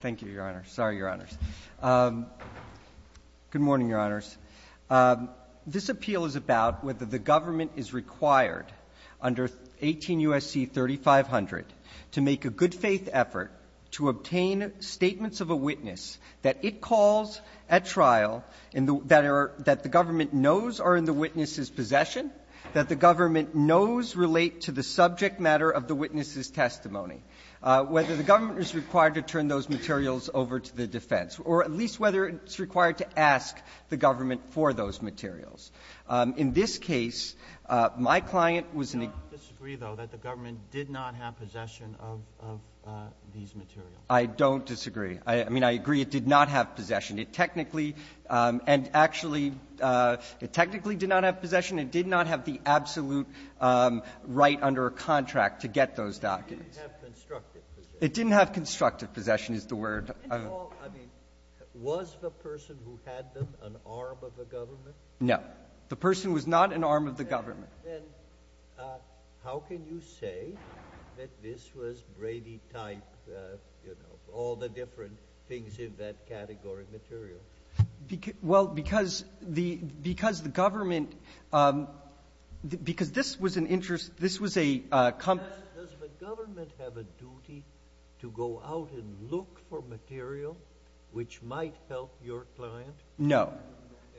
Thank you, Your Honor. Sorry, Your Honors. Good morning, Your Honors. This appeal is about whether the government is required under 18 U.S.C. 3500 to make a good-faith effort to obtain statements of a witness that it calls at trial and that the government knows are in the witness's possession, that the government knows relate to the subject matter of the witness's testimony, whether the government is required to turn those materials over to the defense, or at least whether it's required to ask the government for those materials. In this case, my client was in a ---- Roberts. I don't disagree, though, that the government did not have possession of these materials. Bursch. I don't disagree. I mean, I agree it did not have possession. It technically and actually — it technically did not have possession. It did not have the absolute right under a contract to get those documents. It didn't have constructive possession. It didn't have constructive possession is the word. And, Paul, I mean, was the person who had them an arm of the government? No. The person was not an arm of the government. Then how can you say that this was Brady-type, you know, all the different things in that category of material? Well, because the government — because this was an interest — this was a — Does the government have a duty to go out and look for material which might help your client? No.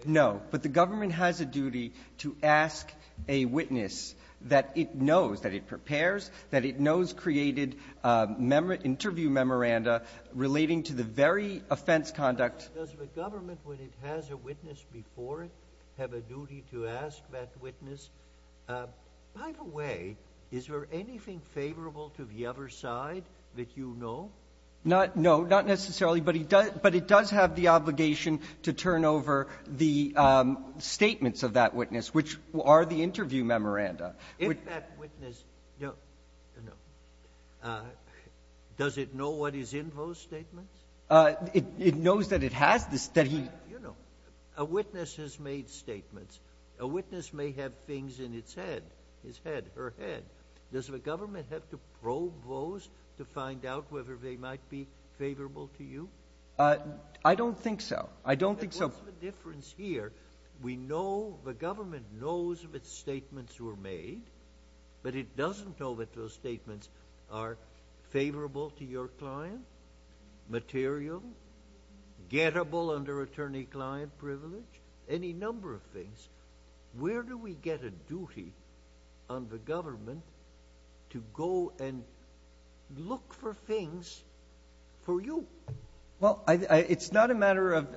No. But the government has a duty to ask a witness that it knows, that it prepares, that it knows created interview memoranda relating to the very offense conduct Does the government, when it has a witness before it, have a duty to ask that witness, by the way, is there anything favorable to the other side that you know? Not — no, not necessarily. But it does have the obligation to turn over the statements of that witness, which are the interview memoranda. If that witness — does it know what is in those statements? It knows that it has the — that he — You know, a witness has made statements. A witness may have things in its head, his head, her head. Does the government have to probe those to find out whether they might be favorable to you? I don't think so. I don't think so. What's the difference here? We know — the government knows if its statements were made, but it doesn't know if those statements are favorable to your client, material, gettable under attorney-client privilege, any number of things. Where do we get a duty on the government to go and look for things for you? Well, it's not a matter of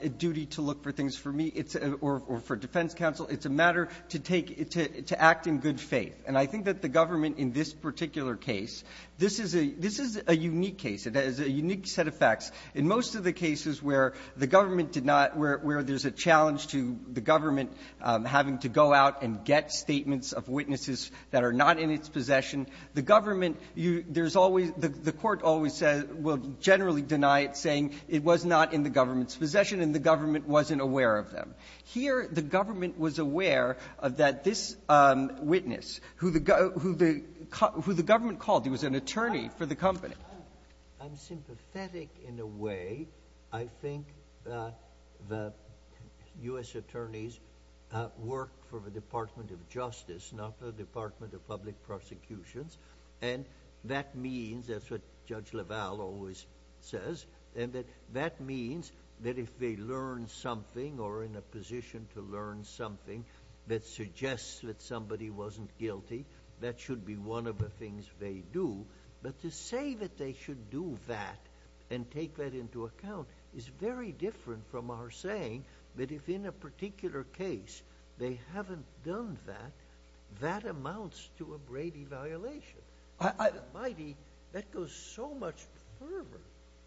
a duty to look for things for me or for defense counsel. It's a matter to take — to act in good faith. And I think that the government in this particular case, this is a — this is a unique case. It has a unique set of facts. In most of the cases where the government did not — where there's a challenge to the government having to go out and get statements of witnesses that are not in its possession, the government — there's always — the Court always says — will generally deny it, saying it was not in the government's possession and the government wasn't aware of them. Here, the government was aware that this witness, who the government called, he was an attorney for the company. I'm sympathetic in a way. I think the U.S. attorneys work for the Department of Justice, not for the Department of Public Prosecutions. And that means — that's what Judge LaValle always says — and that that means that if they learn something or are in a position to learn something that suggests that somebody wasn't guilty, that should be one of the things they do. But to say that they should do that and take that into account is very different from our saying that if, in a particular case, they haven't done that, that amounts to a Brady violation. I — My, that goes so much further.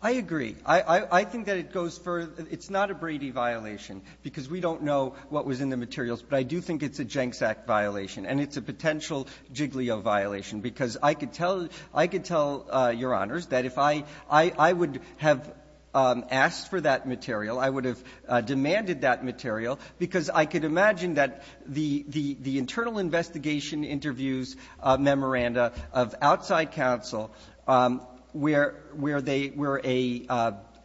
I agree. I think that it goes further. It's not a Brady violation, because we don't know what was in the materials. But I do think it's a Jencks Act violation. And it's a potential Giglio violation, because I could tell — I could tell, Your Honors, that if I — I would have asked for that material, I would have demanded that material, because I could imagine that the — the internal investigation interviews memoranda of outside counsel, where — where they — where a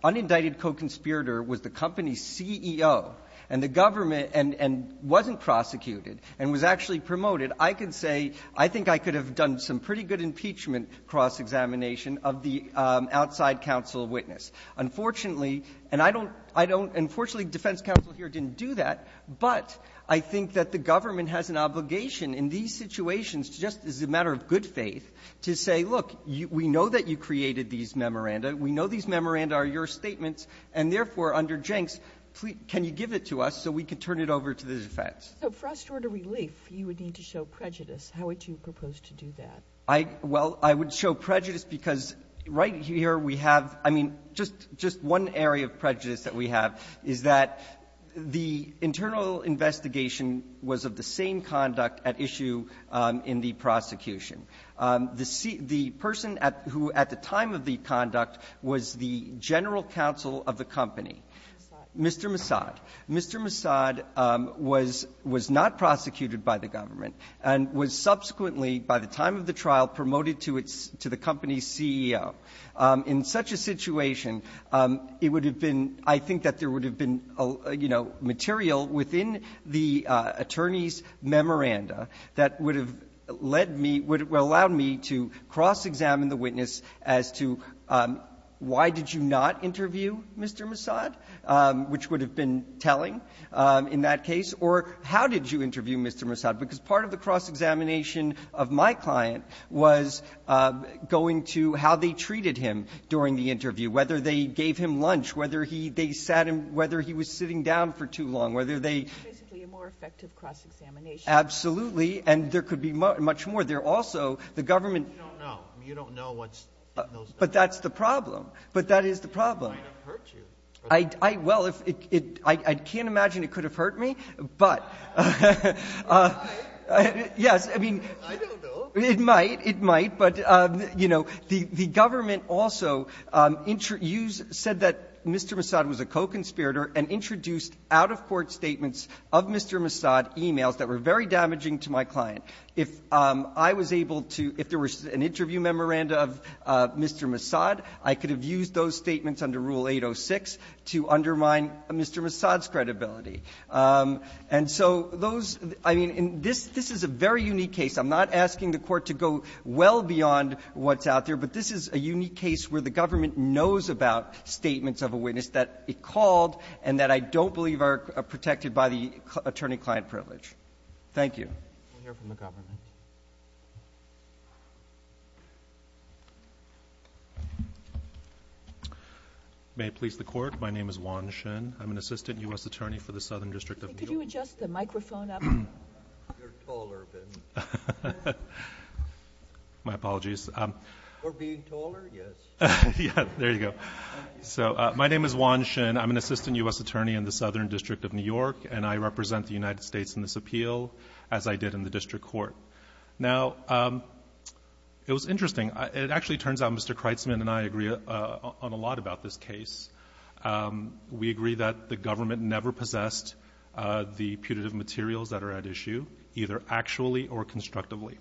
unindicted co-conspirator was the company's CEO and the government and — and wasn't prosecuted and was actually promoted, I could say, I think I could have done some pretty good impeachment cross-examination of the outside counsel witness. Unfortunately — and I don't — I don't — unfortunately, defense counsel here didn't do that, but I think that the government has an obligation in these situations, just as a matter of good faith, to say, look, we know that you created these memoranda. We know these memoranda are your statements, and therefore, under Jencks, can you give it to us so we can turn it over to the defense? So for us to order relief, you would need to show prejudice. How would you propose to do that? I — well, I would show prejudice because right here we have — I mean, just — just one area of prejudice that we have is that the internal investigation was of the same conduct at issue in the prosecution. The — the person at — who at the time of the conduct was the general counsel of the company, Mr. Massad. Mr. Massad was — was not prosecuted by the government and was subsequently, by the time of the trial, promoted to its — to the company's CEO. In such a situation, it would have been — I think that there would have been, you know, material within the attorney's memoranda that would have led me — would have allowed me to cross-examine the witness as to why did you not interview Mr. Massad, which would have been telling in that case, or how did you interview Mr. Massad, because part of the cross-examination of my client was going to how they treated him during the interview, whether they gave him lunch, whether he — they sat him — whether he was sitting down for too long, whether they — Absolutely. And there could be much more. There also — the government — You don't know. You don't know what's in those documents. But that's the problem. But that is the problem. It might have hurt you. I — I — well, if it — it — I can't imagine it could have hurt me, but — It might. Yes. I mean — I don't know. It might. It might. But, you know, the government also said that Mr. Massad was a co-conspirator and introduced out-of-court statements of Mr. Massad emails that were very damaging to my client. If I was able to — if there was an interview memoranda of Mr. Massad, I could have used those statements under Rule 806 to undermine Mr. Massad's credibility. And so those — I mean, in this — this is a very unique case. I'm not asking the Court to go well beyond what's out there, but this is a unique case where the government knows about statements of a witness that it called and that I don't believe are protected by the attorney-client privilege. Thank you. We'll hear from the government. May it please the Court. My name is Juan Shin. I'm an assistant U.S. attorney for the Southern District of New York. Could you adjust the microphone up? You're taller than me. My apologies. Or being taller, yes. Yeah. There you go. Thank you. So my name is Juan Shin. I'm an assistant U.S. attorney in the Southern District of New York, and I represent the United States in this appeal, as I did in the district court. Now, it was interesting. It actually turns out Mr. Kreitzman and I agree on a lot about this case. We agree that the government never possessed the putative materials that are at issue, either actually or constructively.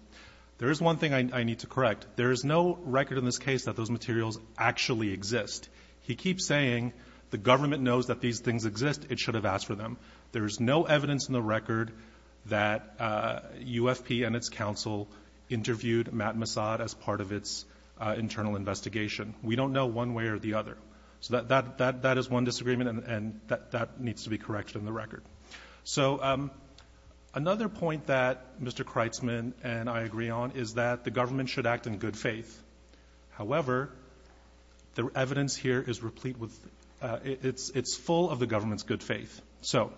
There is one thing I need to correct. There is no record in this case that those materials actually exist. He keeps saying the government knows that these things exist. It should have asked for them. There is no evidence in the record that UFP and its counsel interviewed Matt Massad as part of its internal investigation. We don't know one way or the other. So that is one disagreement, and that needs to be corrected in the record. So another point that Mr. Kreitzman and I agree on is that the government should act in good faith. However, the evidence here is replete with — it's full of the government's good faith. So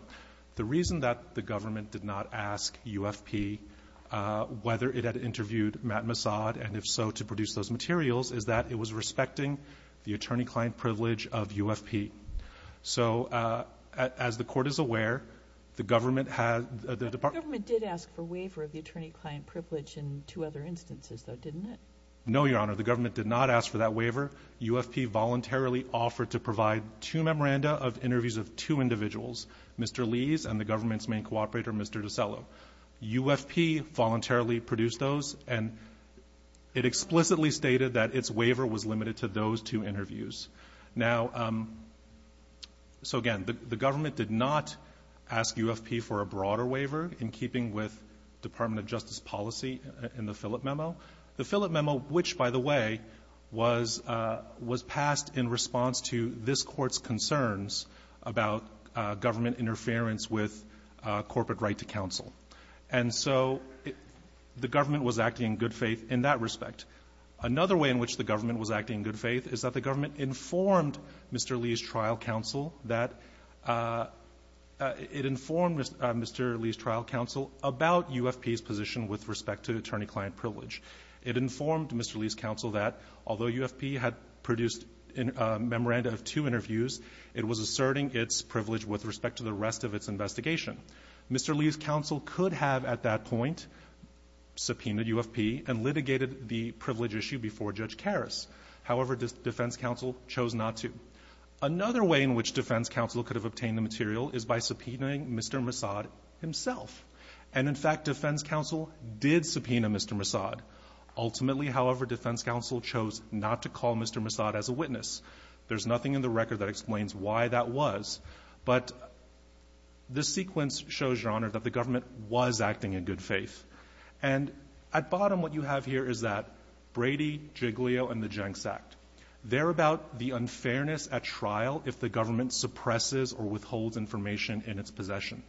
the reason that the government did not ask UFP whether it had interviewed Matt Massad, and if so, to produce those materials, is that it was limited to those two interviews. Now, so again, the government did not ask for that waiver. UFP voluntarily offered to provide two memoranda of interviews of two individuals, Mr. Lees and the government's main cooperator, Mr. DiCello. UFP voluntarily produced those, and it explicitly stated that its waiver was limited to ask UFP for a broader waiver in keeping with Department of Justice policy in the Philip memo. The Philip memo, which, by the way, was passed in response to this Court's concerns about government interference with corporate right to counsel. And so the government was acting in good faith in that respect. Another way in which the government was acting in good faith is that the government informed Mr. Lees' trial counsel that — it informed Mr. Lees' trial counsel about UFP's position with respect to attorney-client privilege. It informed Mr. Lees' counsel that although UFP had produced a memoranda of two interviews, it was asserting its privilege with respect to the rest of its investigation. Mr. Lees' counsel could have at that point subpoenaed UFP and litigated the privilege issue before Judge Karas. However, defense counsel chose not to. Another way in which defense counsel could have obtained the material is by subpoenaing Mr. Massad himself. And in fact, defense counsel did subpoena Mr. Massad. Ultimately, however, defense counsel chose not to call Mr. Massad as a witness. There's nothing in the record that explains why that was. But this sequence shows, Your Honor, that the government was acting in good faith. And at bottom, what you have here is that they're about the unfairness at trial if the government suppresses or withholds information in its possession.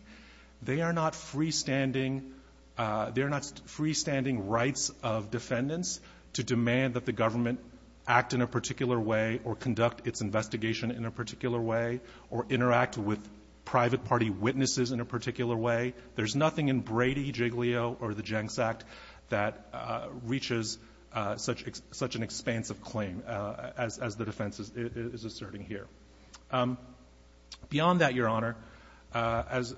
They are not freestanding — they're not freestanding rights of defendants to demand that the government act in a particular way or conduct its investigation in a particular way or interact with private party witnesses in a particular way. There's nothing in Brady, Jiglio, or the Jenks Act that reaches such an expansive claim as the defense is asserting here. Beyond that, Your Honor, as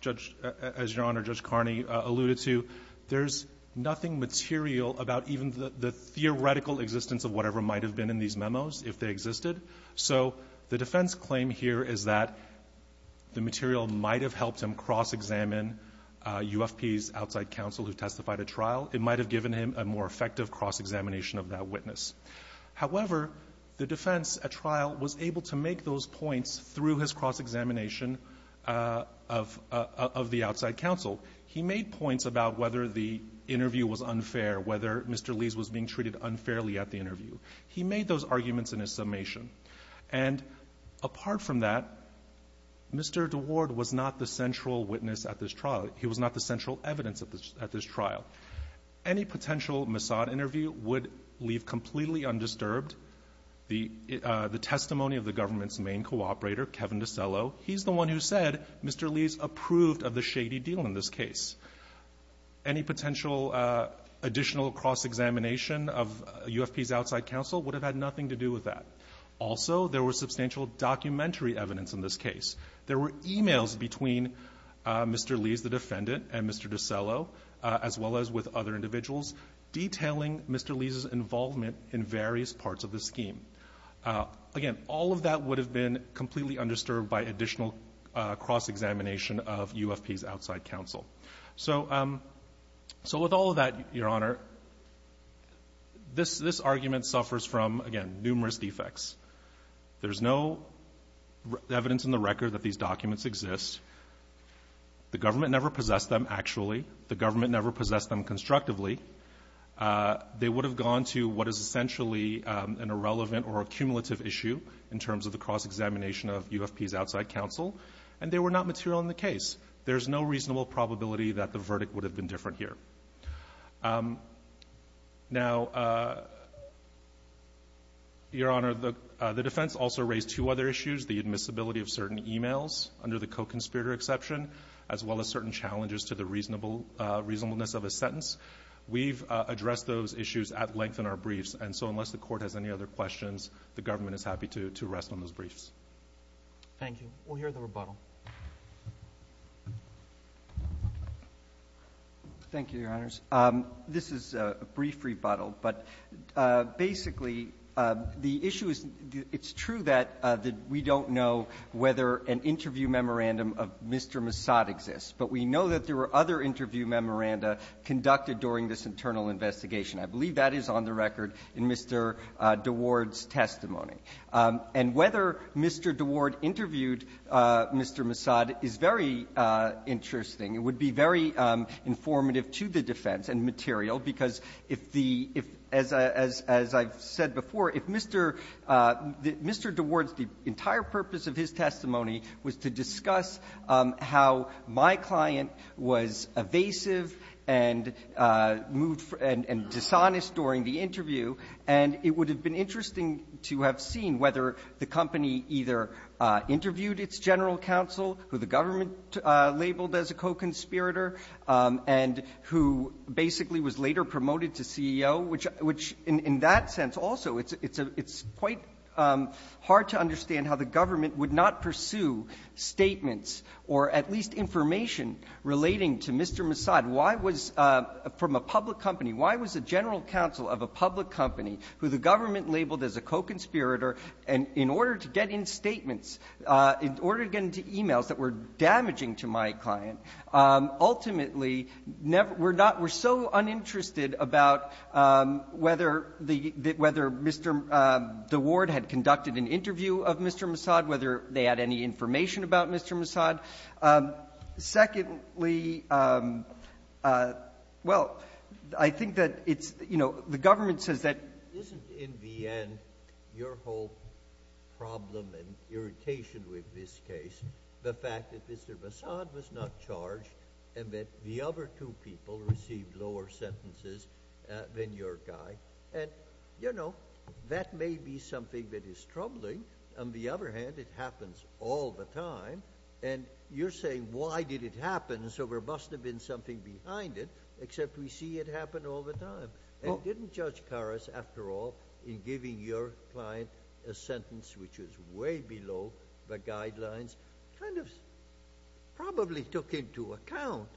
Judge — as Your Honor, Judge Carney alluded to, there's nothing material about even the theoretical existence of whatever might have been in these memos if they existed. So the defense claim here is that the material might have helped him cross-examine UFP's outside counsel who testified at trial. It might have given him a more effective cross-examination of that witness. However, the defense at trial was able to make those points through his cross-examination of the outside counsel. He made points about whether the interview was unfair, whether Mr. Lee's was being treated unfairly at the interview. He made those arguments in his summation. And apart from that, Mr. DeWard was not the central witness at this trial. He was not the central evidence at this trial. Any potential Mossad interview would leave completely undisturbed the testimony of the government's main cooperator, Kevin DiCello. He's the one who said Mr. Lee's approved of the shady deal in this case. Any potential additional cross-examination of UFP's outside counsel would have had nothing to do with that. Also, there was substantial documentary evidence in this case. There were e-mails between Mr. Lee's, the defendant, and Mr. DiCello, as well as with other individuals, detailing Mr. Lee's' involvement in various parts of the scheme. Again, all of that would have been completely undisturbed by additional cross-examination of UFP's outside counsel. So with all of that, Your Honor, this argument suffers from, again, numerous defects. There's no evidence in the record that these documents exist. The government never possessed them, actually. The government never possessed them constructively. They would have gone to what is essentially an irrelevant or a cumulative issue in terms of the cross-examination of UFP's outside counsel, and they were not material in the case. There's no reasonable probability that the verdict would have been different here. Now, Your Honor, the defense also raised two other issues, the admissibility of certain e-mails under the co-conspirator exception, as well as certain challenges to the reasonableness of a sentence. We've addressed those issues at length in our briefs, and so unless the Court has any other questions, the government is happy to rest on those briefs. Thank you. We'll hear the rebuttal. Thank you, Your Honors. This is a brief rebuttal, but basically the issue is it's true that we don't know whether an interview memorandum of Mr. Massad exists, but we know that there were other interview memoranda conducted during this internal investigation. I believe that is on the record in Mr. DeWard's testimony. And whether Mr. DeWard interviewed Mr. Massad is very interesting. It would be very informative to the defense and material, because if the – as I've said before, if Mr. DeWard's – the entire purpose of his testimony was to discuss how my client was evasive and moved – and dishonest during the interview, and it would have been interesting to have seen whether the company either interviewed its general counsel, who the government labeled as a co-conspirator, and who basically was later promoted to CEO, which in that sense also, it's quite hard to understand how the government would not pursue statements or at least information relating to Mr. Massad, why was – from a public company, why was a general counsel of a public company who the government labeled as a co-conspirator, and in order to get in statements, in order to get into e-mails that were damaging to my client, ultimately never – were not – were so uninterested about whether the – whether Mr. DeWard had conducted an interview of Mr. Massad, whether they had any information about Mr. Massad. Secondly, well, I think that it's – you know, the government says that – Isn't in the end your whole problem and irritation with this case the fact that Mr. Massad was not charged and that the other two people received lower sentences than your guy? And, you know, that may be something that is troubling. On the other hand, it happens all the time. And you're saying, why did it happen? And so there must have been something behind it, except we see it happen all the time. And didn't Judge Karas, after all, in giving your client a sentence which was way below the guidelines, kind of probably took into account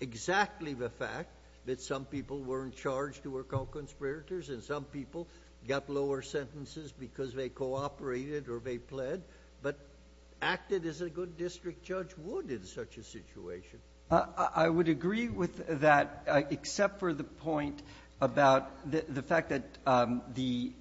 exactly the fact that some people weren't charged who were called conspirators and some people got lower sentences because they cooperated or they pled, but acted as a good district judge would in such a situation? I would agree with that, except for the point about the fact that the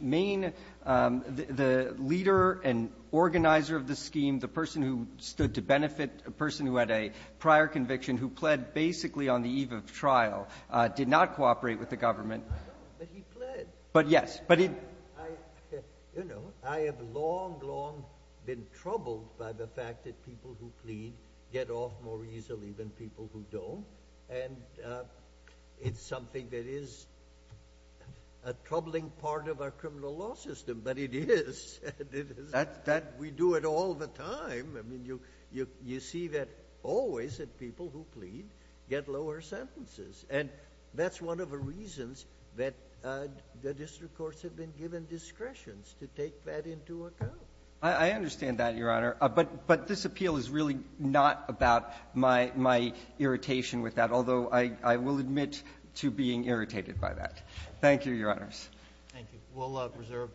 main – the leader and organizer of the scheme, the person who stood to benefit, a person who had a prior conviction, who pled basically on the eve of trial, did not cooperate with the government. But he pled. But, yes. But he – You know, I have long, long been troubled by the fact that people who plead get off more easily than people who don't. And it's something that is a troubling part of our criminal law system, but it is. It is. That – we do it all the time. I mean, you see that always that people who plead get lower sentences. And that's one of the reasons that the district courts have been given discretions, to take that into account. I understand that, Your Honor. But this appeal is really not about my irritation with that, although I will admit to being irritated by that. Thank you, Your Honors. Thank you. We'll preserve that.